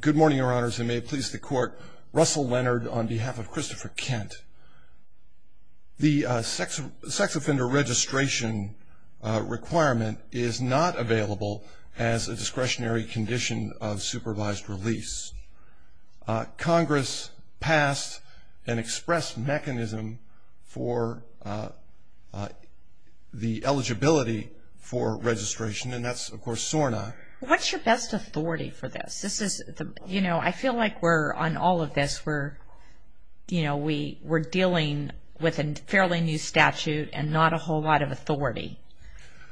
Good morning, Your Honors, and may it please the Court, Russell Leonard on behalf of Christopher Kent. The sex offender registration requirement is not available as a discretionary condition of supervised release. Congress passed an express mechanism for the eligibility for registration, and that's, of course, SORNA. What's your best authority for this? I feel like on all of this we're dealing with a fairly new statute and not a whole lot of authority.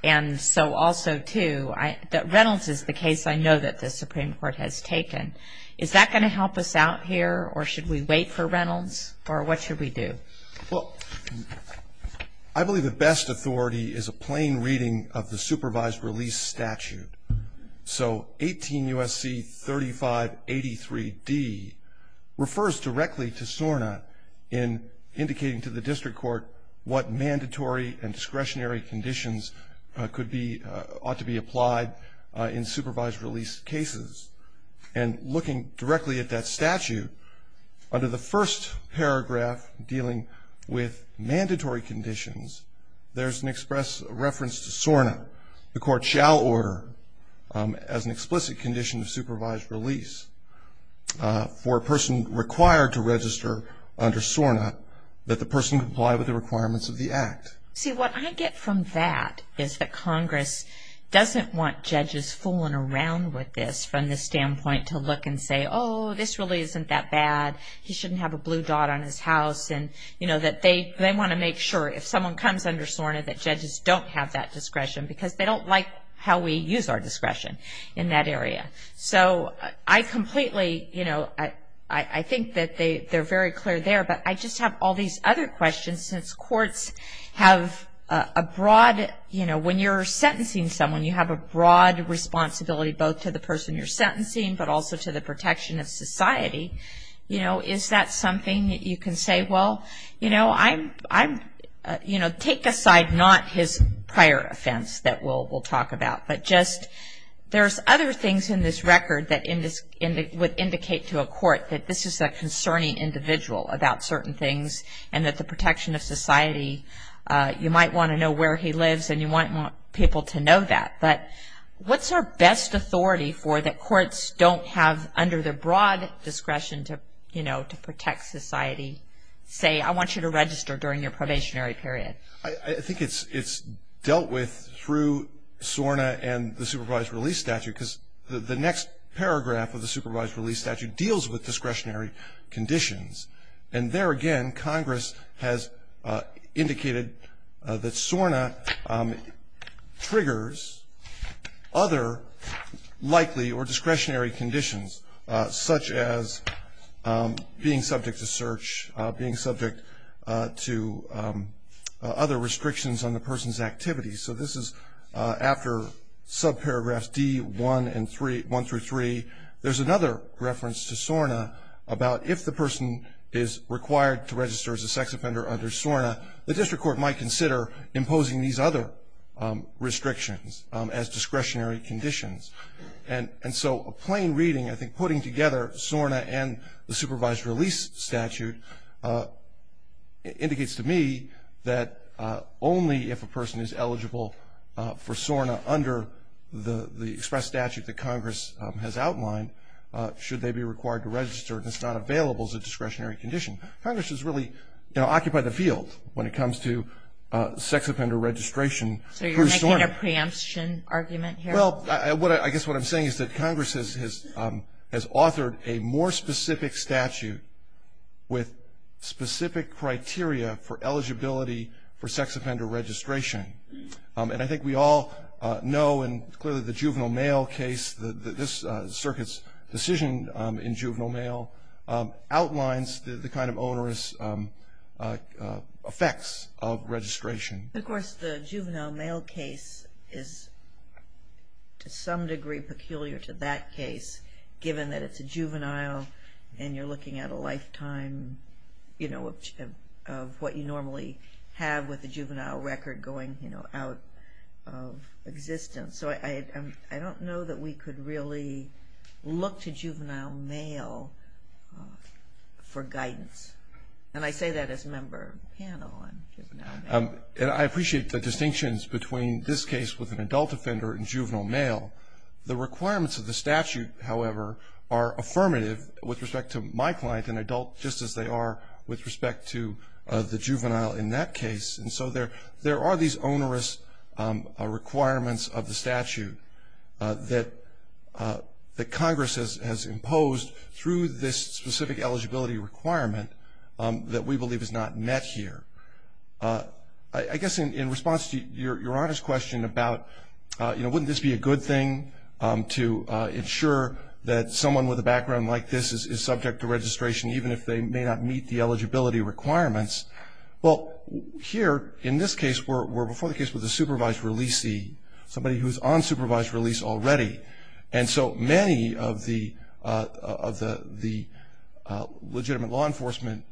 And so also, too, that Reynolds is the case I know that the Supreme Court has taken. Is that going to help us out here, or should we wait for Reynolds, or what should we do? Well, I believe the best authority is a plain reading of the supervised release statute. So 18 U.S.C. 3583D refers directly to SORNA in indicating to the district court what mandatory and discretionary conditions ought to be applied in supervised release cases. And looking directly at that statute, under the first paragraph dealing with mandatory conditions, there's an express reference to SORNA. The Court shall order as an explicit condition of supervised release for a person required to register under SORNA that the person comply with the requirements of the Act. See, what I get from that is that Congress doesn't want judges fooling around with this from the standpoint to look and say, oh, this really isn't that bad, he shouldn't have a blue dot on his house, and, you know, that they want to make sure if someone comes under SORNA that judges don't have that discretion because they don't like how we use our discretion in that area. So I completely, you know, I think that they're very clear there, but I just have all these other questions since courts have a broad, you know, when you're sentencing someone, you have a broad responsibility both to the person you're sentencing but also to the protection of society. You know, is that something that you can say, well, you know, I'm, you know, take aside not his prior offense that we'll talk about, but just there's other things in this record that would indicate to a court that this is a concerning individual about certain things and that the protection of society, you might want to know where he lives and you might want people to know that. But what's our best authority for that courts don't have under their broad discretion to, you know, to protect society, say I want you to register during your probationary period? I think it's dealt with through SORNA and the supervised release statute because the next paragraph of the supervised release statute deals with discretionary conditions. And there again, Congress has indicated that SORNA triggers other likely or discretionary conditions such as being subject to search, being subject to other restrictions on the person's activities. So this is after subparagraphs D1 through 3. There's another reference to SORNA about if the person is required to register as a sex offender under SORNA, the district court might consider imposing these other restrictions as discretionary conditions. And so a plain reading, I think, putting together SORNA and the supervised release statute indicates to me that only if a person is eligible for SORNA under the express statute that Congress has outlined, should they be required to register and it's not available as a discretionary condition. Congress has really, you know, occupied the field when it comes to sex offender registration through SORNA. So you're making a preemption argument here? Well, I guess what I'm saying is that Congress has authored a more specific statute with specific criteria for eligibility for sex offender registration. And I think we all know and clearly the juvenile mail case, this circuit's decision in juvenile mail, outlines the kind of onerous effects of registration. Of course, the juvenile mail case is to some degree peculiar to that case, given that it's a juvenile and you're looking at a lifetime, you know, of what you normally have with a juvenile record going, you know, out of existence. So I don't know that we could really look to juvenile mail for guidance. And I say that as a member of the panel on juvenile mail. And I appreciate the distinctions between this case with an adult offender and juvenile mail. The requirements of the statute, however, are affirmative with respect to my client, an adult, just as they are with respect to the juvenile in that case. And so there are these onerous requirements of the statute that Congress has imposed through this specific eligibility requirement that we believe is not met here. I guess in response to Your Honor's question about, you know, wouldn't this be a good thing to ensure that someone with a background like this is subject to registration, even if they may not meet the eligibility requirements? Well, here, in this case, we're before the case with a supervised releasee, somebody who's on supervised release already. And so many of the legitimate law enforcement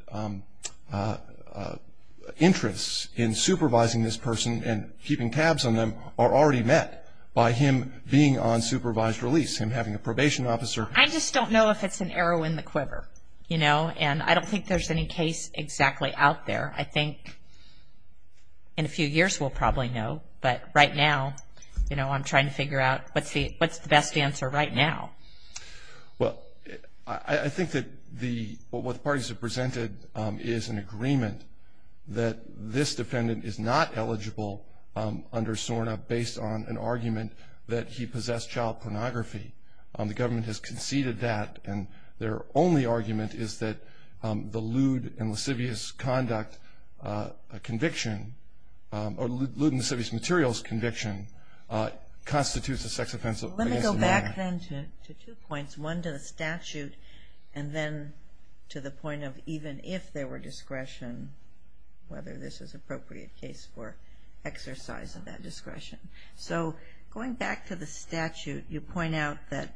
interests in supervising this person and keeping tabs on them are already met by him being on supervised release, him having a probation officer. I just don't know if it's an arrow in the quiver, you know. And I don't think there's any case exactly out there. I think in a few years we'll probably know. But right now, you know, I'm trying to figure out what's the best answer right now. Well, I think that what the parties have presented is an agreement that this defendant is not eligible under SORNA based on an argument that he possessed child pornography. The government has conceded that. And their only argument is that the lewd and lascivious conduct conviction, or lewd and lascivious materials conviction, constitutes a sex offense against a minor. Let me go back then to two points, one to the statute, and then to the point of even if there were discretion, whether this is an appropriate case for exercise of that discretion. So going back to the statute, you point out that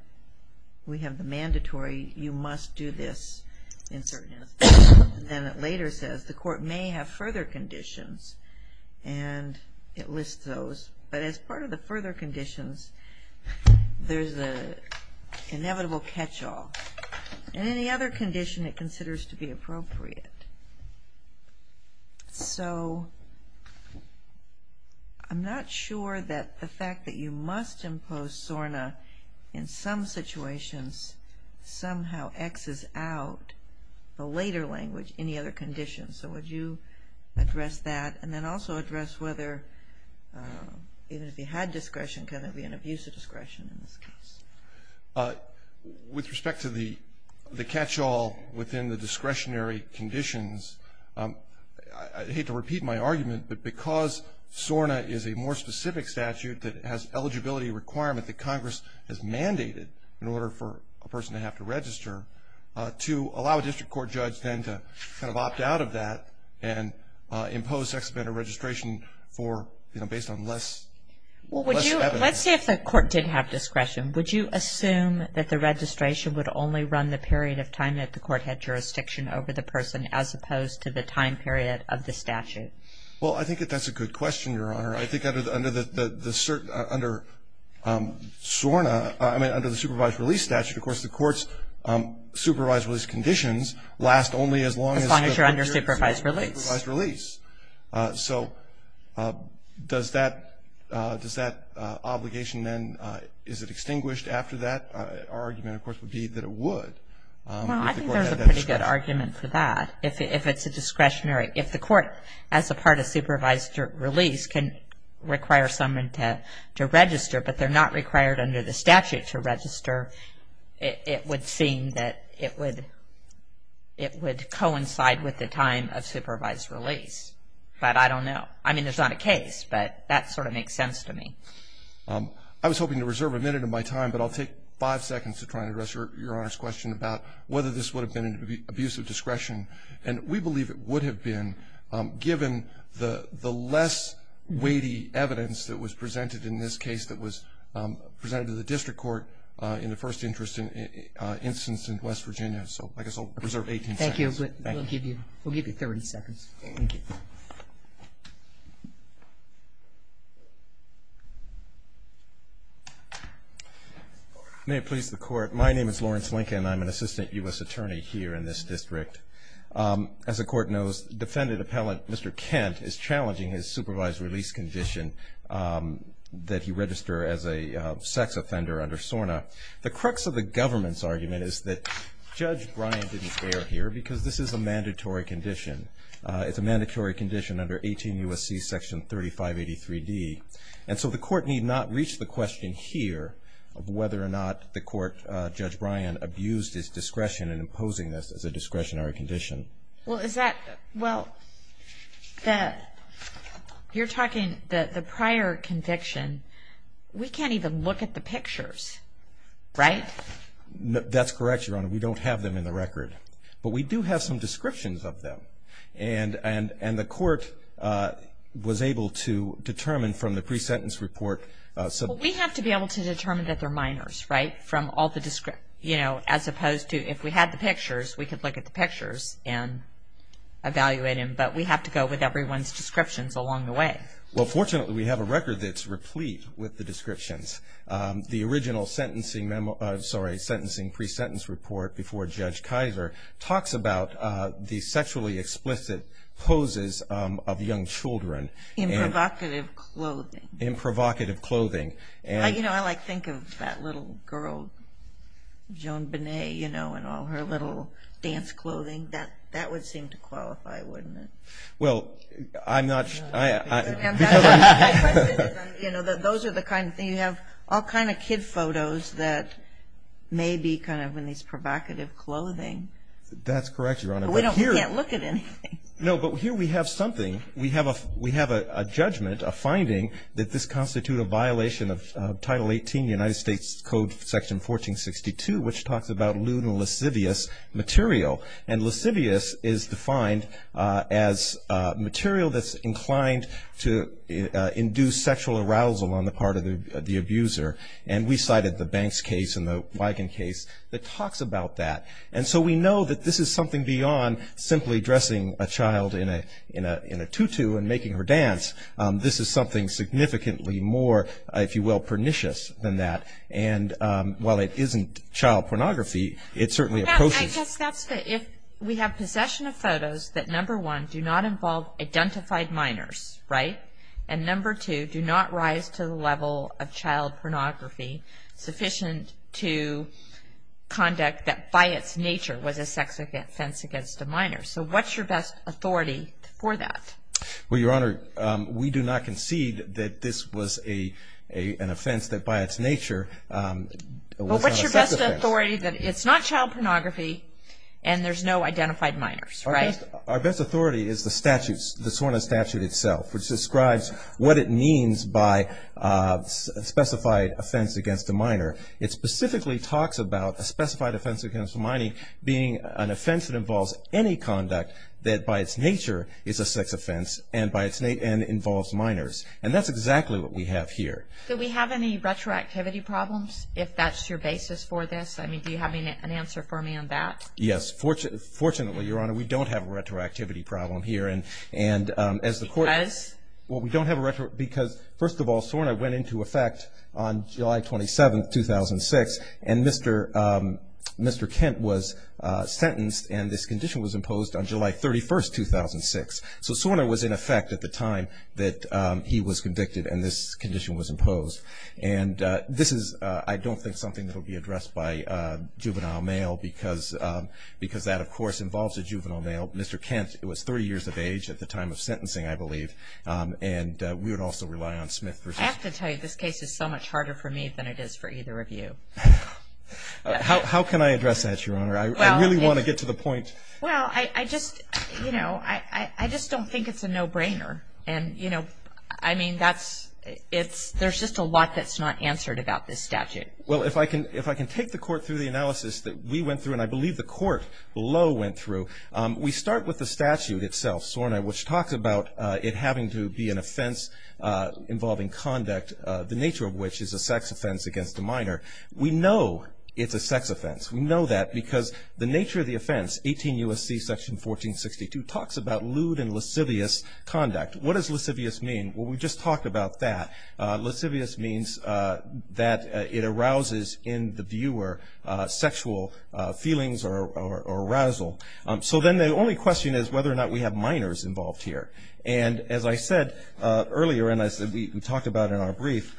we have the mandatory, you must do this in certain instances. And then it later says the court may have further conditions. And it lists those. But as part of the further conditions, there's the inevitable catch-all. And any other condition it considers to be appropriate. So I'm not sure that the fact that you must impose SORNA in some situations somehow X's out the later language, any other conditions. So would you address that? And then also address whether even if you had discretion, could there be an abuse of discretion in this case? With respect to the catch-all within the discretionary conditions, I hate to repeat my argument, but because SORNA is a more specific statute that has eligibility requirement that Congress has mandated in order for a person to have to register, to allow a district court judge then to kind of opt out of that and impose sex offender registration for, you know, based on less evidence. Well, let's say if the court did have discretion, would you assume that the registration would only run the period of time that the court had jurisdiction over the person as opposed to the time period of the statute? Well, I think that that's a good question, Your Honor. I think under SORNA, I mean under the supervised release statute, of course the court's supervised release conditions last only as long as you're under supervised release. So does that obligation then, is it extinguished after that? Our argument, of course, would be that it would. Well, I think there's a pretty good argument for that. If it's a discretionary, if the court, as a part of supervised release, can require someone to register, but they're not required under the statute to register, it would seem that it would coincide with the time of supervised release. But I don't know. I mean, it's not a case, but that sort of makes sense to me. I was hoping to reserve a minute of my time, but I'll take five seconds to try and address Your Honor's question about whether this would have been an abuse of discretion. And we believe it would have been, given the less weighty evidence that was presented in this case that was presented to the district court in the first instance in West Virginia. So I guess I'll reserve 18 seconds. Thank you. We'll give you 30 seconds. Thank you. May it please the Court. My name is Lawrence Lincoln. I'm an assistant U.S. attorney here in this district. As the Court knows, defendant appellant Mr. Kent is challenging his supervised release condition that he register as a sex offender under SORNA. The crux of the government's argument is that Judge Bryan didn't care here because this is a mandatory condition. It's a mandatory condition under 18 U.S.C. Section 3583D. And so the Court need not reach the question here of whether or not the Court, Judge Bryan, abused his discretion in imposing this as a discretionary condition. Well, you're talking the prior conviction. We can't even look at the pictures, right? That's correct, Your Honor. We don't have them in the record. But we do have some descriptions of them. And the Court was able to determine from the pre-sentence report. We have to be able to determine that they're minors, right? You know, as opposed to if we had the pictures, we could look at the pictures and evaluate them. But we have to go with everyone's descriptions along the way. Well, fortunately, we have a record that's replete with the descriptions. The original sentencing pre-sentence report before Judge Kaiser talks about the sexually explicit poses of young children. In provocative clothing. In provocative clothing. You know, I like to think of that little girl, Joan Bonet, you know, in all her little dance clothing. That would seem to qualify, wouldn't it? Well, I'm not sure. My question is, you know, those are the kind of things. You have all kind of kid photos that may be kind of in these provocative clothing. That's correct, Your Honor. But we can't look at anything. No, but here we have something. We have a judgment, a finding, that this constitutes a violation of Title 18, United States Code Section 1462, which talks about lewd and lascivious material. And lascivious is defined as material that's inclined to induce sexual arousal on the part of the abuser. And we cited the Banks case and the Wigan case that talks about that. And so we know that this is something beyond simply dressing a child in a tutu and making her dance. This is something significantly more, if you will, pernicious than that. And while it isn't child pornography, it certainly approaches. I guess that's the, if we have possession of photos that, number one, do not involve identified minors, right? And, number two, do not rise to the level of child pornography sufficient to conduct that, by its nature, was a sex offense against a minor. So what's your best authority for that? Well, Your Honor, we do not concede that this was an offense that, by its nature, was not a sex offense. But what's your best authority that it's not child pornography and there's no identified minors, right? Our best authority is the statutes, the SORNA statute itself, which describes what it means by specified offense against a minor. It specifically talks about a specified offense against a minor being an offense that involves any conduct that, by its nature, is a sex offense and involves minors. And that's exactly what we have here. Do we have any retroactivity problems, if that's your basis for this? I mean, do you have an answer for me on that? Yes. Fortunately, Your Honor, we don't have a retroactivity problem here. Because? Well, we don't have a retroactivity problem because, first of all, SORNA went into effect on July 27, 2006, and Mr. Kent was sentenced and this condition was imposed on July 31, 2006. So SORNA was in effect at the time that he was convicted and this condition was imposed. And this is, I don't think, something that will be addressed by a juvenile male because that, of course, involves a juvenile male. Mr. Kent was 30 years of age at the time of sentencing, I believe, and we would also rely on Smith v. I have to tell you, this case is so much harder for me than it is for either of you. How can I address that, Your Honor? I really want to get to the point. Well, I just don't think it's a no-brainer. And, you know, I mean, there's just a lot that's not answered about this statute. Well, if I can take the court through the analysis that we went through, and I believe the court below went through, we start with the statute itself, SORNA, which talks about it having to be an offense involving conduct, the nature of which is a sex offense against a minor. We know it's a sex offense. We know that because the nature of the offense, 18 U.S.C. section 1462, talks about lewd and lascivious conduct. What does lascivious mean? Well, we just talked about that. Lascivious means that it arouses in the viewer sexual feelings or arousal. So then the only question is whether or not we have minors involved here. And as I said earlier, and as we talked about in our brief,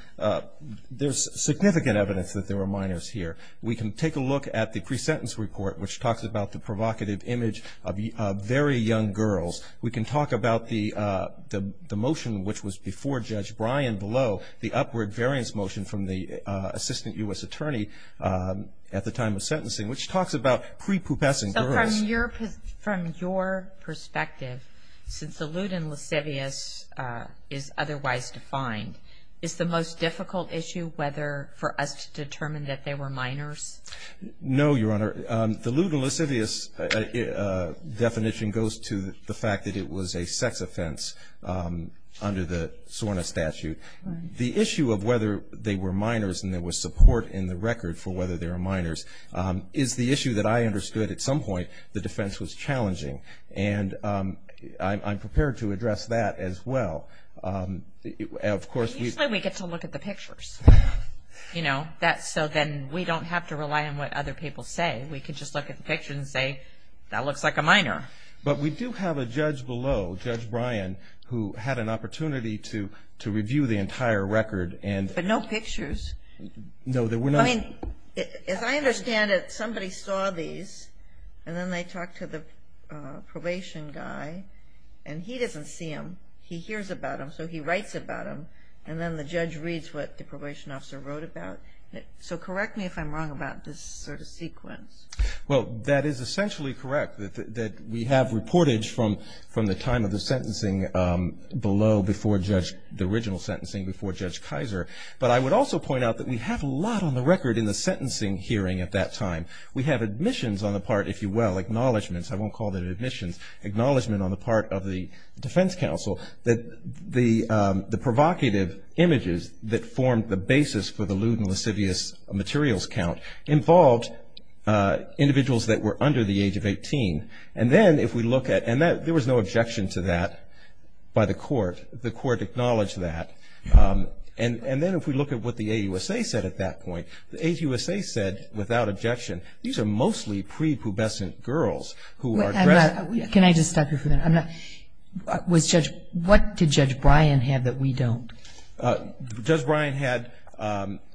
there's significant evidence that there were minors here. We can take a look at the pre-sentence report, which talks about the provocative image of very young girls. We can talk about the motion which was before Judge Bryan below, the upward variance motion from the assistant U.S. attorney at the time of sentencing, which talks about prepubescent girls. So from your perspective, since the lewd and lascivious is otherwise defined, is the most difficult issue for us to determine that they were minors? No, Your Honor. The lewd and lascivious definition goes to the fact that it was a sex offense under the SORNA statute. The issue of whether they were minors, and there was support in the record for whether they were minors, is the issue that I understood at some point the defense was challenging. And I'm prepared to address that as well. Usually we get to look at the pictures. So then we don't have to rely on what other people say. We can just look at the picture and say, that looks like a minor. But we do have a judge below, Judge Bryan, who had an opportunity to review the entire record. But no pictures. No, there were not. As I understand it, somebody saw these, and then they talked to the probation guy, and he doesn't see them. He hears about them, so he writes about them. And then the judge reads what the probation officer wrote about. So correct me if I'm wrong about this sort of sequence. Well, that is essentially correct, that we have reportage from the time of the sentencing below, before the original sentencing, before Judge Kaiser. But I would also point out that we have a lot on the record in the sentencing hearing at that time. We have admissions on the part, if you will, acknowledgments. I won't call them admissions. Acknowledgement on the part of the defense counsel that the provocative images that formed the basis for the lewd and lascivious materials count involved individuals that were under the age of 18. And then if we look at – and there was no objection to that by the court. The court acknowledged that. And then if we look at what the AUSA said at that point, the AUSA said, without objection, these are mostly prepubescent girls who are dressed – Wait, I'm not – can I just stop you for a minute? I'm not – was Judge – what did Judge Bryan have that we don't? Judge Bryan had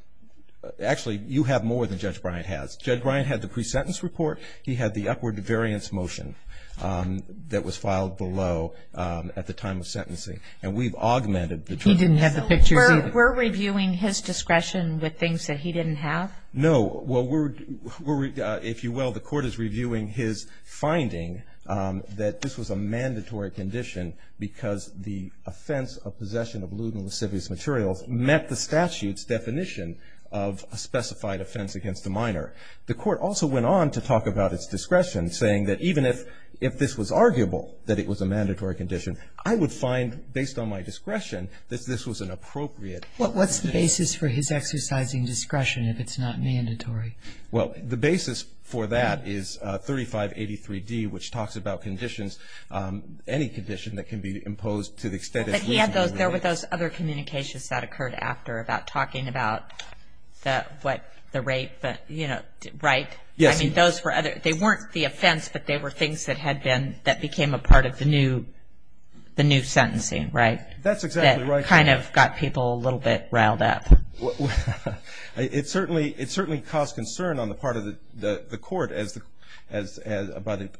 – actually, you have more than Judge Bryan has. Judge Bryan had the pre-sentence report. He had the upward variance motion that was filed below at the time of sentencing. And we've augmented the – He didn't have the pictures either. So we're reviewing his discretion with things that he didn't have? No. Well, we're – if you will, the court is reviewing his finding that this was a mandatory condition because the offense of possession of lewd and lascivious materials met the statute's definition of a specified offense against a minor. The court also went on to talk about its discretion, saying that even if this was arguable that it was a mandatory condition, I would find, based on my discretion, that this was an appropriate case. What's the basis for his exercising discretion if it's not mandatory? Well, the basis for that is 3583D, which talks about conditions, any condition that can be imposed to the extent it's reasonable. But he had those – there were those other communications that occurred after about talking about the – what – the rape, but, you know, right? Yes. I mean, those were other – they weren't the offense, but they were things that had been – that became a part of the new sentencing, right? That's exactly right. That kind of got people a little bit riled up. It certainly caused concern on the part of the court as –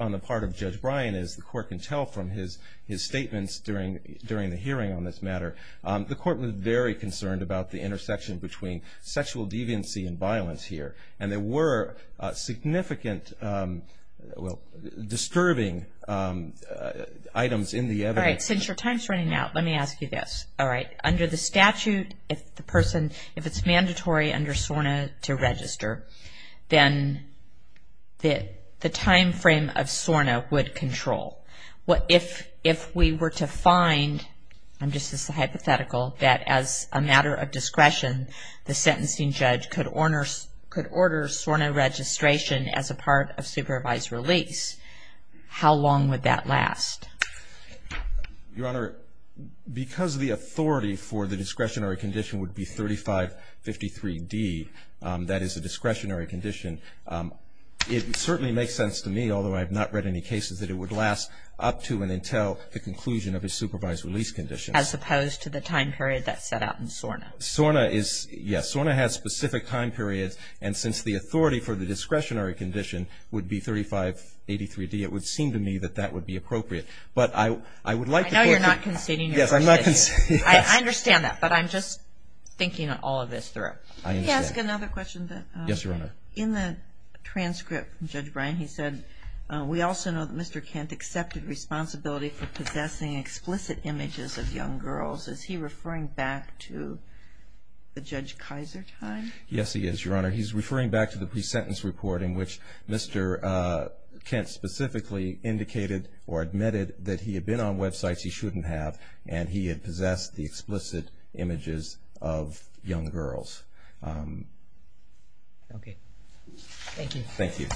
on the part of Judge Bryan, as the court can tell from his statements during the hearing on this matter. The court was very concerned about the intersection between sexual deviancy and violence here, and there were significant – well, disturbing items in the evidence. All right. Since your time's running out, let me ask you this. All right. Under the statute, if the person – if it's mandatory under SORNA to register, then the timeframe of SORNA would control. If we were to find – I'm just hypothetical – that as a matter of discretion, the sentencing judge could order SORNA registration as a part of supervised release, how long would that last? Your Honor, because the authority for the discretionary condition would be 3553D, that is a discretionary condition, it certainly makes sense to me, although I have not read any cases, that it would last up to and until the conclusion of a supervised release condition. As opposed to the time period that's set out in SORNA. SORNA is – yes, SORNA has specific time periods, and since the authority for the discretionary condition would be 3583D, it would seem to me that that would be appropriate. But I would like to – I know you're not conceding your position. Yes, I'm not conceding. I understand that, but I'm just thinking all of this through. I understand. Can I ask another question? Yes, Your Honor. In the transcript from Judge Bryan, he said, we also know that Mr. Kent accepted responsibility for possessing explicit images of young girls. Is he referring back to the Judge Kaiser time? Yes, he is, Your Honor. He's referring back to the pre-sentence reporting, which Mr. Kent specifically indicated or admitted that he had been on websites he shouldn't have, and he had possessed the explicit images of young girls. Okay. Thank you. Thank you.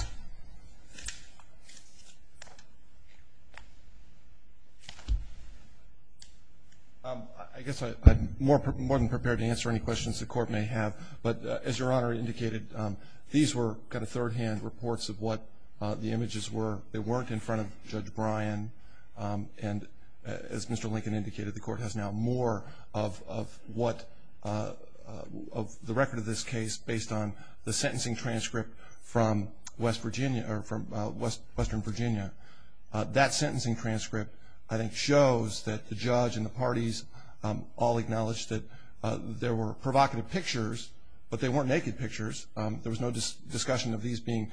I guess I'm more than prepared to answer any questions the Court may have, but as Your Honor indicated, these were kind of third-hand reports of what the images were. They weren't in front of Judge Bryan, and as Mr. Lincoln indicated, the Court has now more of what – of the record of this case based on the sentencing transcript from West Virginia – or from Western Virginia. That sentencing transcript, I think, that there were provocative pictures, but they weren't naked pictures. There was no discussion of these being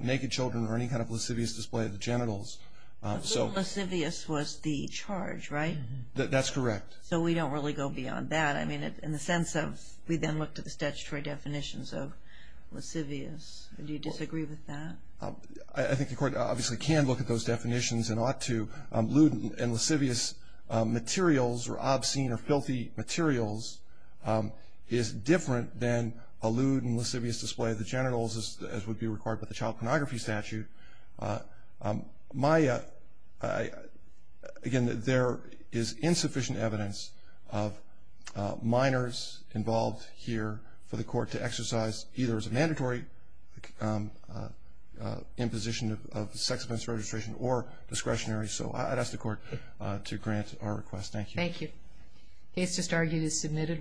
naked children or any kind of lascivious display of the genitals. But lewd and lascivious was the charge, right? That's correct. So we don't really go beyond that. I mean, in the sense of we then looked at the statutory definitions of lascivious. Do you disagree with that? I think the Court obviously can look at those definitions and ought to. Lewd and lascivious materials, or obscene or filthy materials, is different than a lewd and lascivious display of the genitals, as would be required by the child pornography statute. My – again, there is insufficient evidence of minors involved here for the Court to exercise, either as a mandatory imposition of sex offence registration or discretionary. So I'd ask the Court to grant our request. Thank you. Thank you. The case just argued is submitted.